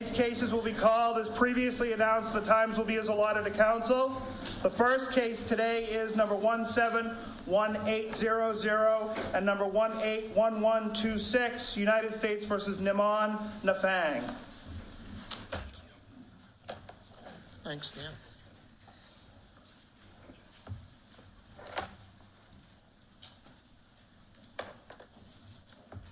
These cases will be called as previously announced. The times will be as allotted to counsel. The first case today is number 171800 and number 181126, United States v. Nimon-Naphaeng.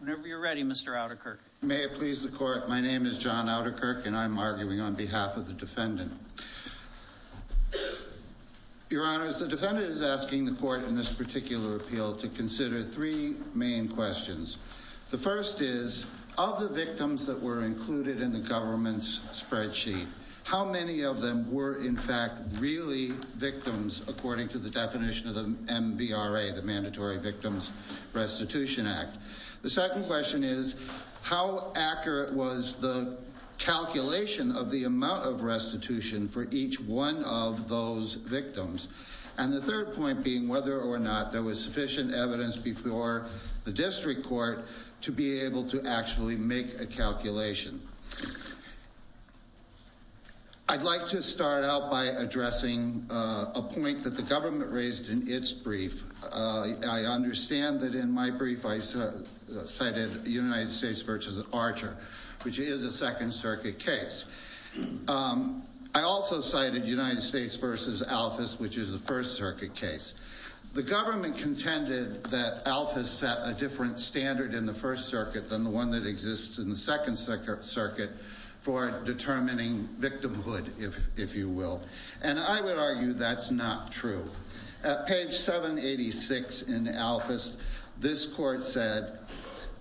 Whenever you're ready, Mr. Outterkirk. May it please the court. My name is John Outterkirk, and I'm arguing on behalf of the defendant. Your Honor, the defendant is asking the court in this particular appeal to consider three main questions. The first is, of the victims that were included in the government's spreadsheet, how many of them were in fact really victims according to the definition of the MBRA, the Mandatory Victims Restitution Act? The second question is, how accurate was the calculation of the amount of restitution for each one of those victims? And the third point being whether or not there was sufficient evidence before the district court to be able to actually make a calculation. I'd like to start out by addressing a point that the government raised in its brief. I understand that in my brief I cited United States v. Archer, which is a Second Circuit case. I also cited United States v. Alphas, which is a First Circuit case. The government contended that Alphas set a different standard in the First Circuit than the one that exists in the Second Circuit for determining victimhood, if you will. And I would argue that's not true. At page 786 in Alphas, this court said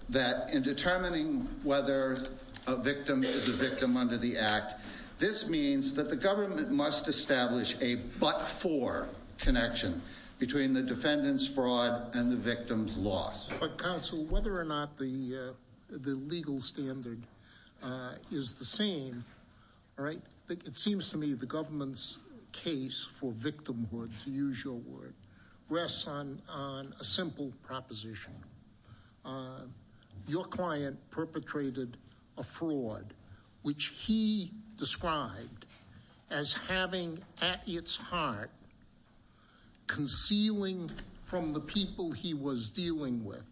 that in determining whether a victim is a victim under the act, this means that the government must establish a but-for connection between the defendant's fraud and the victim's loss. But counsel, whether or not the legal standard is the same, right? It seems to me the government's case for victimhood, to use your word, rests on a simple proposition. Your client perpetrated a fraud, which he described as having at its heart, concealing from the people he was dealing with,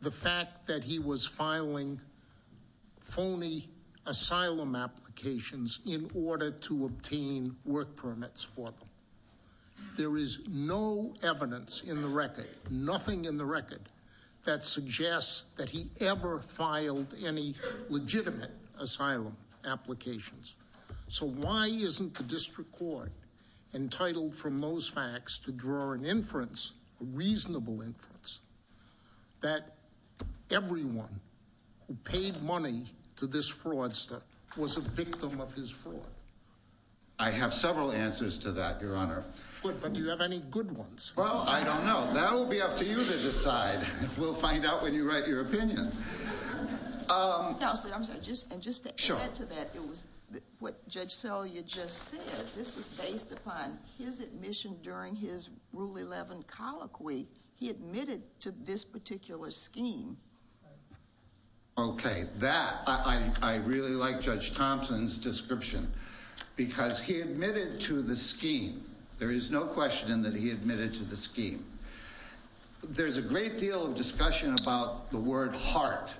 the fact that he was filing phony asylum applications in order to obtain work permits for them. There is no evidence in the record, nothing in the record, that suggests that he ever filed any legitimate asylum applications. So why isn't the district court entitled from those facts to draw an inference, a reasonable inference, that everyone who paid money to this fraudster was a victim of his fraud? I have several answers to that, Your Honor. But do you have any good ones? Well, I don't know. That will be up to you to decide. We'll find out when you write your opinion. Counsel, I'm sorry, and just to add to that, it was what Judge Selya just said. This was based upon his admission during his Rule 11 colloquy. He admitted to this particular scheme. Okay, that, I really like Judge Thompson's description. Because he admitted to the scheme. There is no question that he admitted to the scheme. There's a great deal of discussion about the word heart,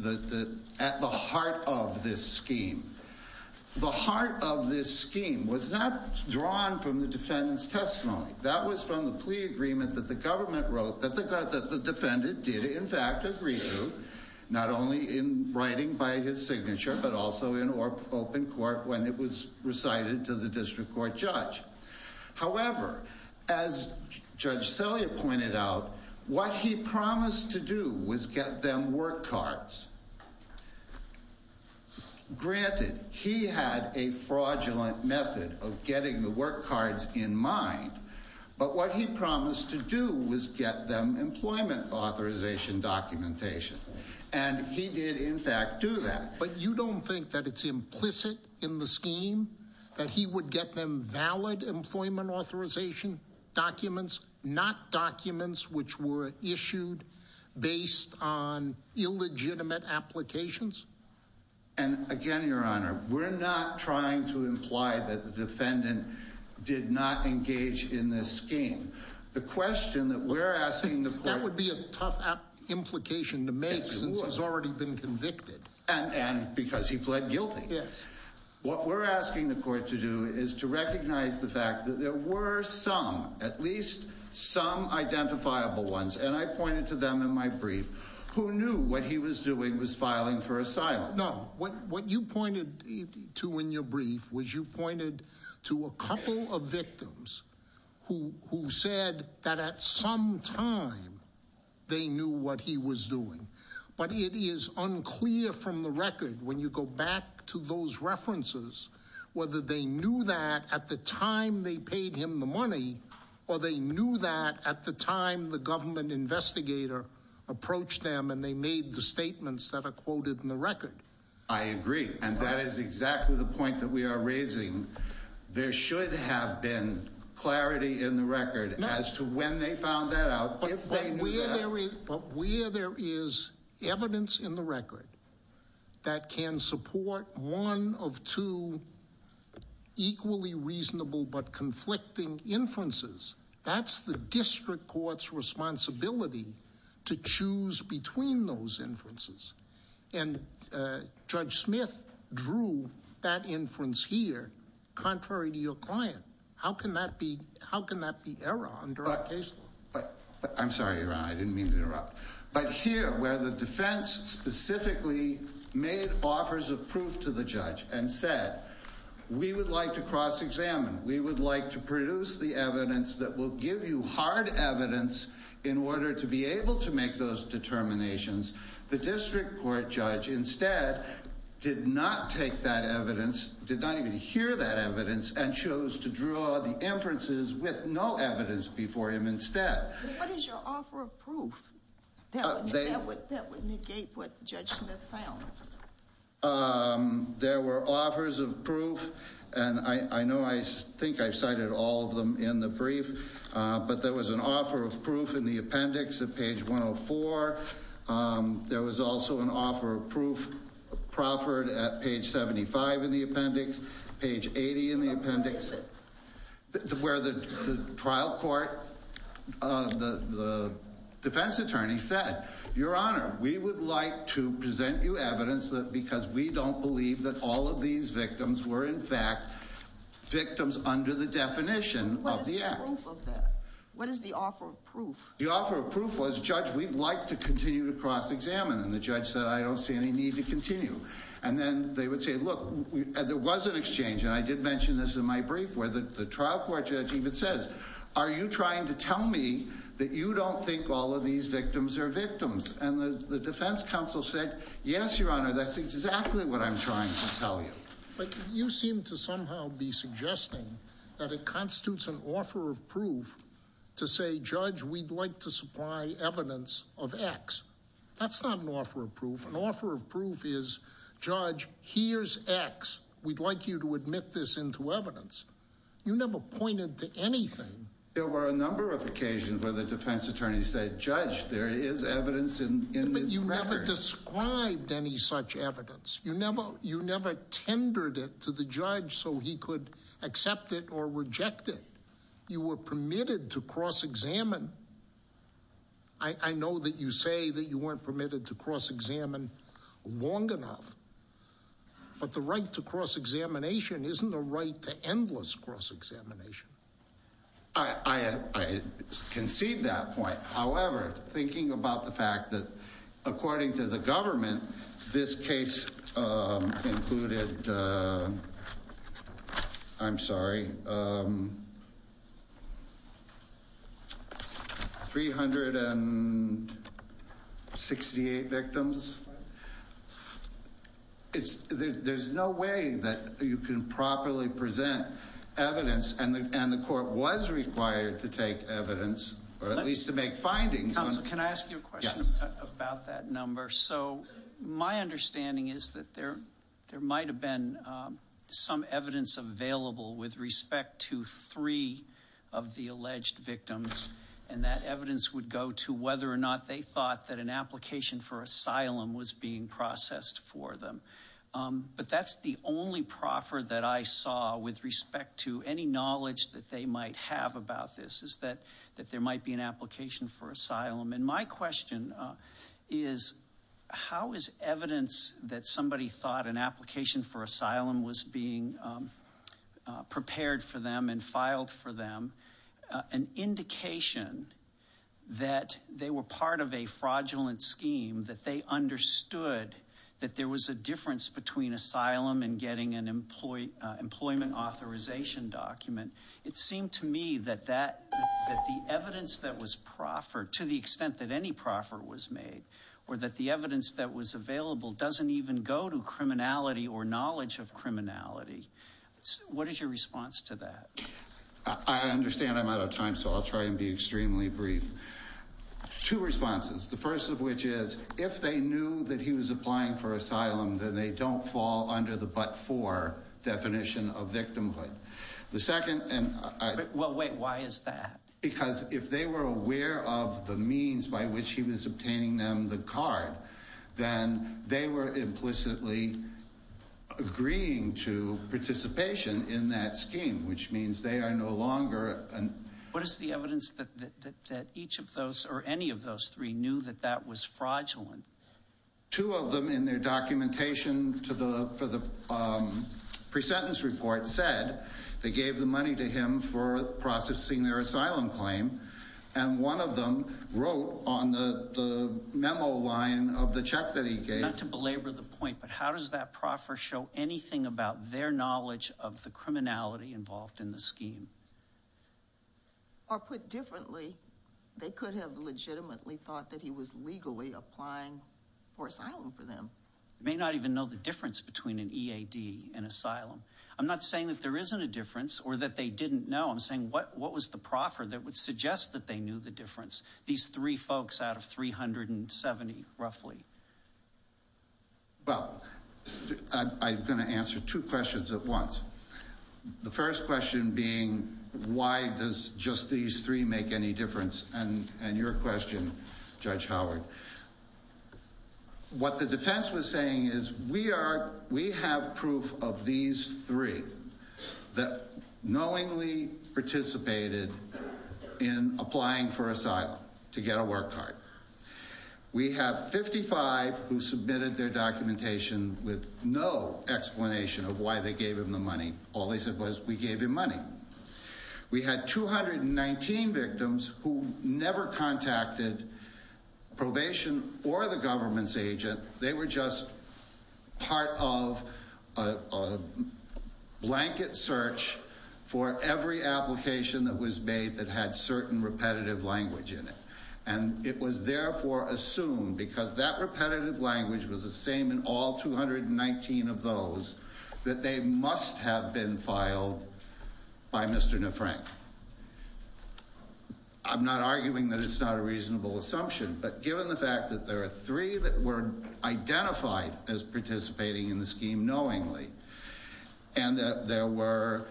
at the heart of this scheme. The heart of this scheme was not drawn from the defendant's testimony. That was from the plea agreement that the defendant did in fact agree to, not only in writing by his signature, but also in open court when it was recited to the district court judge. However, as Judge Selya pointed out, what he promised to do was get them work cards. Granted, he had a fraudulent method of getting the work cards in mind. But what he promised to do was get them employment authorization documentation. And he did, in fact, do that. But you don't think that it's implicit in the scheme, that he would get them valid employment authorization documents, not documents which were issued based on illegitimate applications? And again, Your Honor, we're not trying to imply that the defendant did not engage in this scheme. The question that we're asking the court- That would be a tough implication to make since he's already been convicted. And because he pled guilty. Yes. What we're asking the court to do is to recognize the fact that there were some, at least some identifiable ones, and I pointed to them in my brief, who knew what he was doing was filing for asylum. No, what you pointed to in your brief was you pointed to a couple of victims who said that at some time they knew what he was doing. But it is unclear from the record, when you go back to those references, whether they knew that at the time they paid him the money, or they knew that at the time the government investigator approached them and they made the statements that are quoted in the record. I agree, and that is exactly the point that we are raising. There should have been clarity in the record as to when they found that out. But where there is evidence in the record that can support one of two equally reasonable but conflicting inferences, that's the district court's responsibility to choose between those inferences. And Judge Smith drew that inference here, contrary to your client. How can that be error under our case law? I'm sorry, your honor, I didn't mean to interrupt. But here, where the defense specifically made offers of proof to the judge and said, we would like to cross-examine. We would like to produce the evidence that will give you hard evidence in order to be able to make those determinations. The district court judge instead did not take that evidence, did not even hear that evidence, and chose to draw the inferences with no evidence before him instead. What is your offer of proof that would negate what Judge Smith found? There were offers of proof. And I know I think I've cited all of them in the brief. But there was an offer of proof in the appendix at page 104. There was also an offer of proof proffered at page 75 in the appendix, page 80 in the appendix, where the trial court, the defense attorney said, your honor, we would like to present you evidence because we don't believe that all of these victims were, in fact, victims under the definition of the act. What is the offer of proof? The offer of proof was, judge, we'd like to continue to cross-examine. And then they would say, look, there was an exchange, and I did mention this in my brief, where the trial court judge even says, are you trying to tell me that you don't think all of these victims are victims? And the defense counsel said, yes, your honor, that's exactly what I'm trying to tell you. But you seem to somehow be suggesting that it constitutes an offer of proof to say, judge, we'd like to supply evidence of X. That's not an offer of proof. An offer of proof is, judge, here's X. We'd like you to admit this into evidence. You never pointed to anything. There were a number of occasions where the defense attorney said, judge, there is evidence in this record. But you never described any such evidence. You never tendered it to the judge so he could accept it or reject it. You were permitted to cross-examine. I know that you say that you weren't permitted to cross-examine long enough. But the right to cross-examination isn't a right to endless cross-examination. I concede that point. However, thinking about the fact that, according to the government, this case included, I'm sorry, 368 victims. There's no way that you can properly present evidence. And the court was required to take evidence, or at least to make findings. Council, can I ask you a question about that number? So my understanding is that there might have been some evidence available with respect to three of the alleged victims. And that evidence would go to whether or not they thought that an application for asylum was being processed for them. But that's the only proffer that I saw with respect to any knowledge that they might have about this, is that there might be an application for asylum. And my question is, how is evidence that somebody thought an application for asylum was being prepared for them and filed for them. An indication that they were part of a fraudulent scheme, that they understood that there was a difference between asylum and getting an employment authorization document. It seemed to me that the evidence that was proffered, to the extent that any proffer was made. Or that the evidence that was available doesn't even go to criminality or knowledge of criminality. What is your response to that? I understand I'm out of time, so I'll try and be extremely brief. Two responses, the first of which is, if they knew that he was applying for asylum, then they don't fall under the but-for definition of victimhood. The second, and I- Well, wait, why is that? Because if they were aware of the means by which he was obtaining them the card, then they were implicitly agreeing to participation in that scheme, which means they are no longer an- What is the evidence that each of those, or any of those three, knew that that was fraudulent? Two of them in their documentation for the pre-sentence report said, they gave the money to him for processing their asylum claim. And one of them wrote on the memo line of the check that he gave- Not to belabor the point, but how does that proffer show anything about their knowledge of the criminality involved in the scheme? Or put differently, they could have legitimately thought that he was legally applying for asylum for them. They may not even know the difference between an EAD and asylum. I'm not saying that there isn't a difference, or that they didn't know. I'm saying, what was the proffer that would suggest that they knew the difference? These three folks out of 370, roughly. Well, I'm gonna answer two questions at once. The first question being, why does just these three make any difference? And your question, Judge Howard. What the defense was saying is, we have proof of these three that knowingly participated in applying for asylum to get a work card. We have 55 who submitted their documentation with no explanation of why they gave him the money. All they said was, we gave him money. We had 219 victims who never contacted probation or the government's agent. They were just part of a blanket search for every application that was made that had certain repetitive language in it. And it was therefore assumed, because that repetitive language was the same in all 219 of those, that they must have been filed by Mr. Nefrank. I'm not arguing that it's not a reasonable assumption, but given the fact that there are three that were identified as participating in the scheme knowingly, and that there were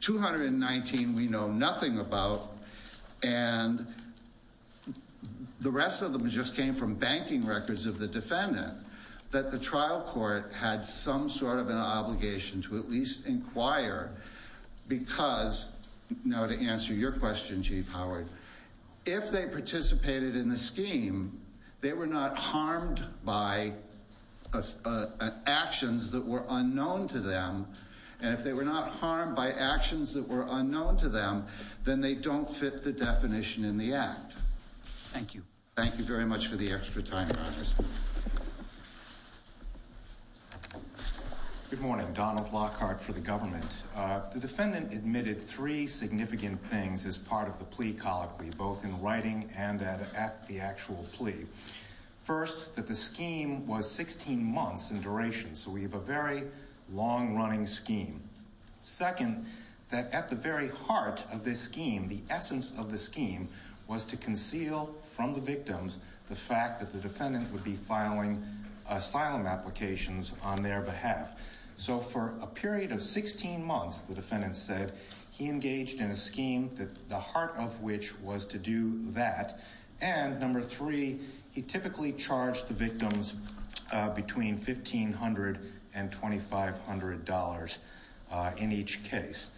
219 we know nothing about. And the rest of them just came from banking records of the defendant, that the trial court had some sort of an obligation to at least inquire. Because, now to answer your question, Chief Howard, if they participated in the scheme, they were not harmed by actions that were unknown to them. And if they were not harmed by actions that were unknown to them, then they don't fit the definition in the act. Thank you. Thank you very much for the extra time, Your Honors. Good morning, Donald Lockhart for the government. The defendant admitted three significant things as part of the plea colloquy, both in writing and at the actual plea. First, that the scheme was 16 months in duration, so we have a very long running scheme. Second, that at the very heart of this scheme, the essence of this scheme was to conceal from the victims the fact that the defendant would be filing asylum applications on their behalf. So for a period of 16 months, the defendant said, he engaged in a scheme that the heart of which was to do that. And number three, he typically charged the victims between $1,500 and $2,500 in each case.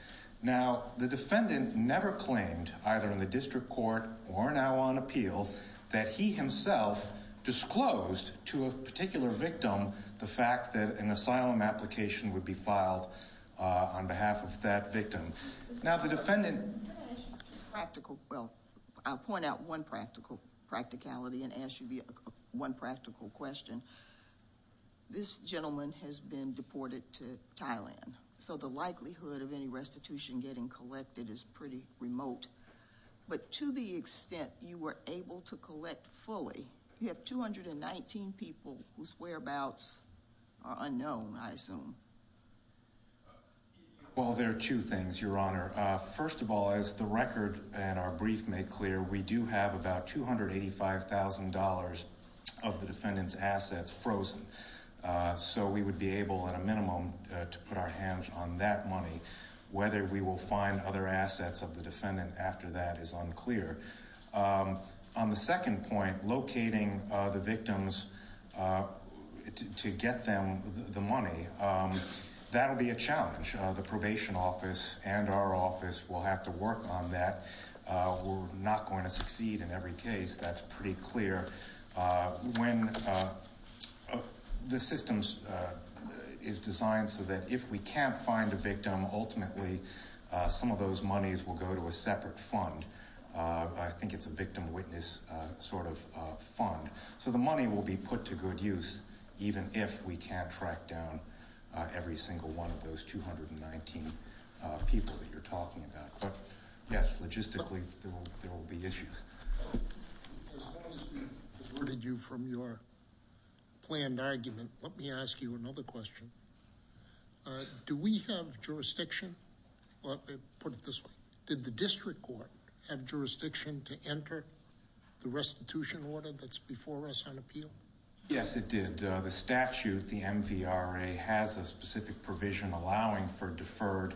Now, the defendant never claimed, either in the district court or now on appeal, that he himself disclosed to a particular victim the fact that an asylum application would be filed on behalf of that victim. Now, the defendant- Can I ask you a practical, well, I'll point out one practicality and ask you one practical question. This gentleman has been deported to Thailand, so the likelihood of any restitution getting collected is pretty remote. But to the extent you were able to collect fully, you have 219 people whose whereabouts are unknown, I assume. Well, there are two things, Your Honor. First of all, as the record and our brief make clear, we do have about $285,000 of the defendant's assets frozen. So we would be able, at a minimum, to put our hands on that money. Whether we will find other assets of the defendant after that is unclear. On the second point, locating the victims to get them the money, that'll be a challenge. The probation office and our office will have to work on that. We're not going to succeed in every case, that's pretty clear. When the system is designed so that if we can't find a victim, ultimately some of those monies will go to a separate fund. I think it's a victim witness sort of fund. So the money will be put to good use, even if we can't track down every single one of those 219 people that you're talking about. But yes, logistically, there will be issues. As long as we've alerted you from your planned argument, let me ask you another question. Do we have jurisdiction, put it this way, did the district court have jurisdiction to enter the restitution order that's before us on appeal? Yes, it did. The statute, the MVRA, has a specific provision allowing for deferred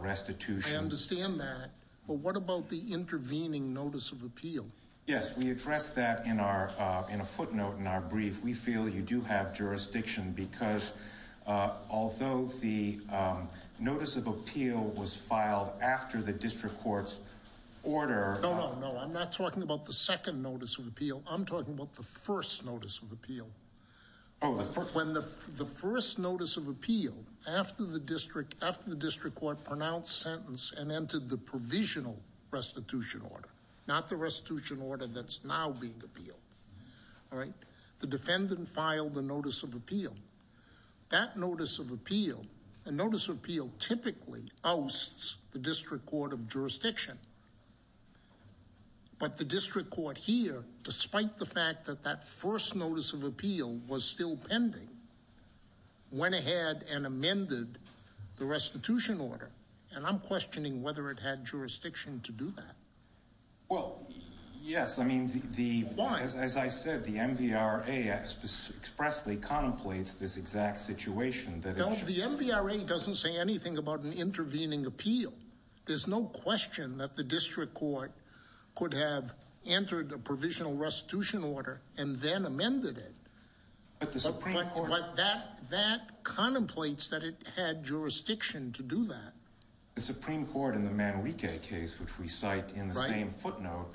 restitution. I understand that, but what about the intervening notice of appeal? Yes, we address that in a footnote in our brief. We feel you do have jurisdiction because although the notice of appeal was filed after the district court's order- No, no, no, I'm not talking about the second notice of appeal. I'm talking about the first notice of appeal. When the first notice of appeal after the district court pronounced sentence and entered the provisional restitution order, not the restitution order that's now being appealed, all right? The defendant filed the notice of appeal. That notice of appeal, a notice of appeal typically ousts the district court of jurisdiction. But the district court here, despite the fact that that first notice of appeal was still pending, went ahead and amended the restitution order. And I'm questioning whether it had jurisdiction to do that. Well, yes, I mean, the- Why? As I said, the MVRA expressly contemplates this exact situation that it should- No, the MVRA doesn't say anything about an intervening appeal. There's no question that the district court could have entered the provisional restitution order and then amended it. But the Supreme Court- But that contemplates that it had jurisdiction to do that. The Supreme Court in the Manrique case, which we cite in the same footnote,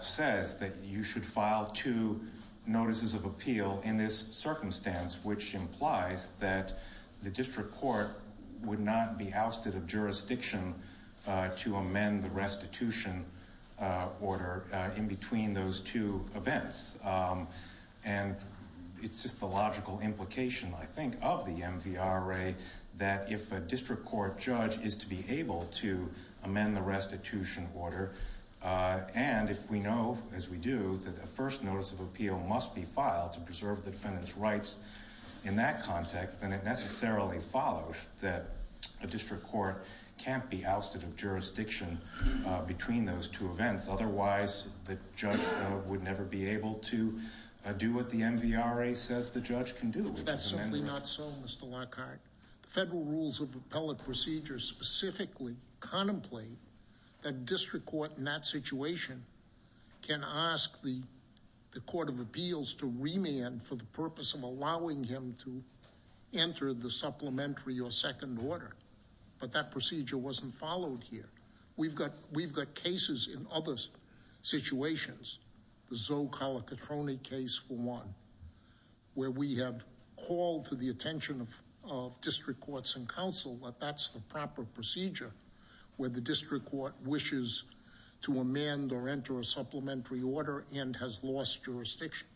says that you should file two notices of appeal in this circumstance, which implies that the district court would not be ousted of jurisdiction to amend the restitution order in between those two events. And it's just the logical implication, I think, of the MVRA, that if a district court judge is to be able to amend the restitution order, and if we know, as we do, that a first notice of appeal must be filed to preserve the defendant's rights in that context, then it necessarily follows that a district court can't be ousted of jurisdiction between those two events. Otherwise, the judge would never be able to do what the MVRA says the judge can do. That's certainly not so, Mr. Lockhart. Federal rules of appellate procedures specifically contemplate that district court in that situation can ask the Court of Appeals to remand for the purpose of allowing him to enter the supplementary or second order. But that procedure wasn't followed here. We've got cases in other situations. The Zoe Calicatroni case for one, where we have called for the attention of district courts and council that that's the proper procedure where the district court wishes to amend or enter a supplementary order and has lost jurisdiction.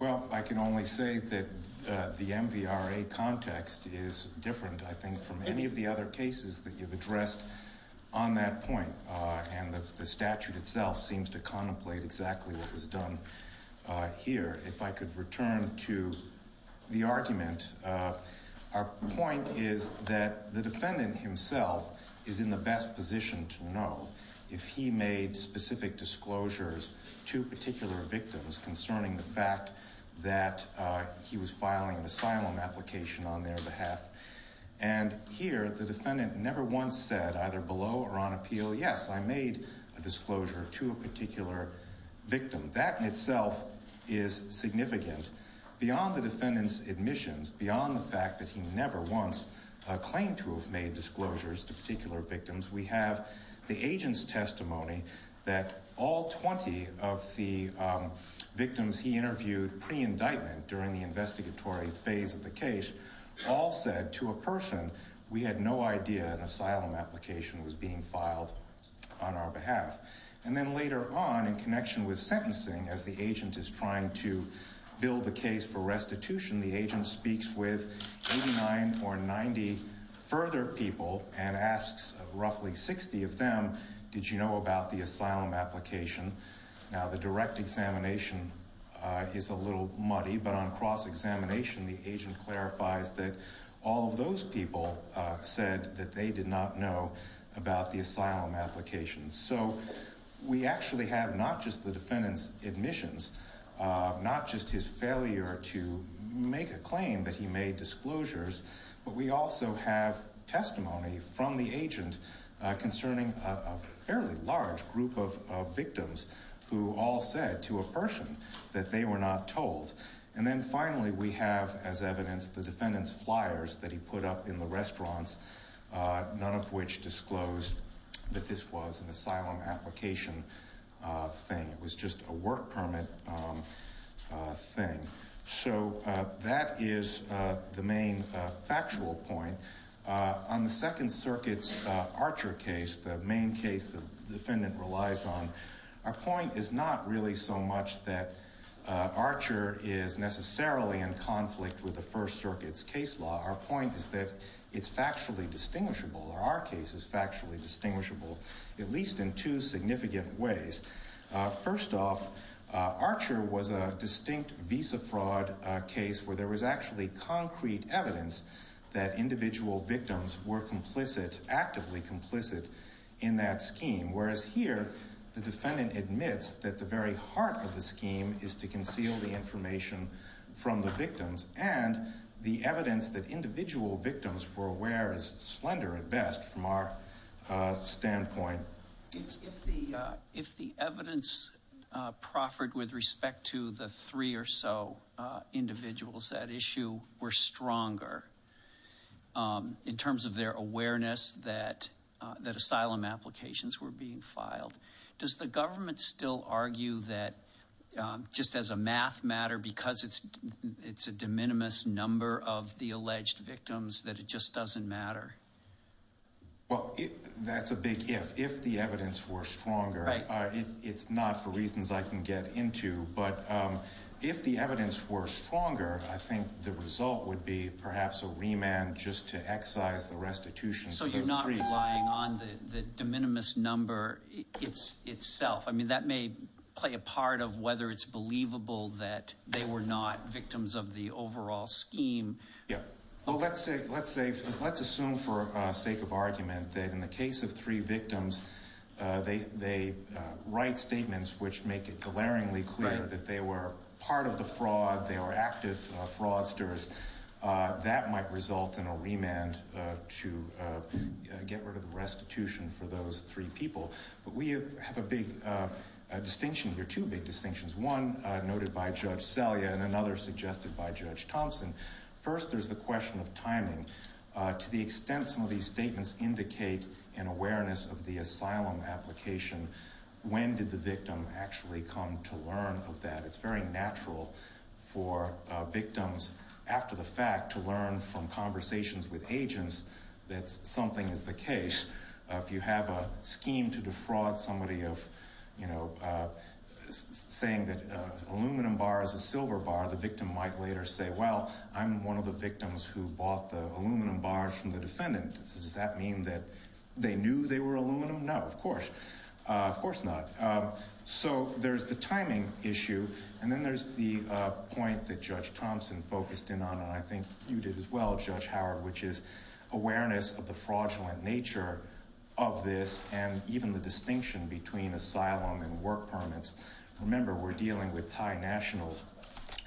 Well, I can only say that the MVRA context is different, I think, from any of the other cases that you've addressed on that point. And the statute itself seems to contemplate exactly what was done here. If I could return to the argument, our point is that the defendant himself is in the best position to know if he made specific disclosures to particular victims concerning the fact that he was filing an asylum application on their behalf. And here, the defendant never once said, either below or on appeal, yes, I made a disclosure to a particular victim. That in itself is significant. Beyond the defendant's admissions, beyond the fact that he never once claimed to have made disclosures to particular victims, we have the agent's testimony that all 20 of the victims he interviewed pre-indictment during the investigatory phase of the case all said to a person, we had no idea an asylum application was being filed on our behalf. And then later on, in connection with sentencing, as the agent is trying to build the case for restitution, the agent speaks with 89 or 90 further people and asks roughly 60 of them, did you know about the asylum application? Now, the direct examination is a little muddy, but on cross-examination, the agent clarifies that all of those people said that they did not know about the asylum application. So we actually have not just the defendant's admissions, not just his failure to make a claim that he made disclosures, but we also have testimony from the agent concerning a fairly large group of victims who all said to a person that they were not told. And then finally, we have as evidence the defendant's flyers that he put up in the restaurants, none of which disclosed that this was an asylum application thing, it was just a work permit thing. So that is the main factual point. On the Second Circuit's Archer case, the main case the defendant relies on, our point is not really so much that Archer is necessarily in conflict with the First Circuit's case law. Our point is that it's factually distinguishable, or our case is factually distinguishable, at least in two significant ways. First off, Archer was a distinct visa fraud case where there was actually concrete evidence that individual victims were actively complicit in that scheme. Whereas here, the defendant admits that the very heart of the scheme is to conceal the information from the victims, and the evidence that individual victims were aware is slender at best from our standpoint. If the evidence proffered with respect to the three or so individuals at issue were stronger, in terms of their awareness that asylum applications were being filed, does the government still argue that just as a math matter, because it's a de minimis number of the alleged victims, that it just doesn't matter? Well, that's a big if. If the evidence were stronger, it's not for reasons I can get into, but if the evidence were stronger, I think the result would be perhaps a remand just to excise the restitution. So you're not relying on the de minimis number itself. I mean, that may play a part of whether it's believable that they were not victims of the overall scheme. Yeah. Well, let's assume for sake of argument that in the case of three victims, they write statements which make it glaringly clear that they were part of the fraud, they were active fraudsters, that might result in a remand to get rid of the restitution for those three people, but we have a big distinction here, two big distinctions. One noted by Judge Selya and another suggested by Judge Thompson. First, there's the question of timing. To the extent some of these statements indicate an awareness of the asylum application, when did the victim actually come to learn of that? It's very natural for victims after the fact to learn from conversations with agents that something is the case. If you have a scheme to defraud somebody of, you know, saying that aluminum bar is a silver bar, the victim might later say, well, I'm one of the victims who bought the aluminum bars from the defendant. Does that mean that they knew they were aluminum? No, of course, of course not. So there's the timing issue. And then there's the point that Judge Thompson focused in on, and I think you did as well, Judge Howard, which is awareness of the fraudulent nature of this and even the distinction between asylum and work permits. Remember, we're dealing with Thai nationals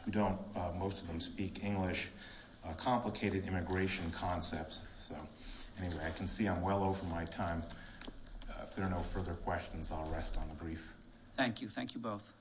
who don't, most of them speak English, complicated immigration concepts. So anyway, I can see I'm well over my time. If there are no further questions, I'll rest on the brief. Thank you. Thank you both.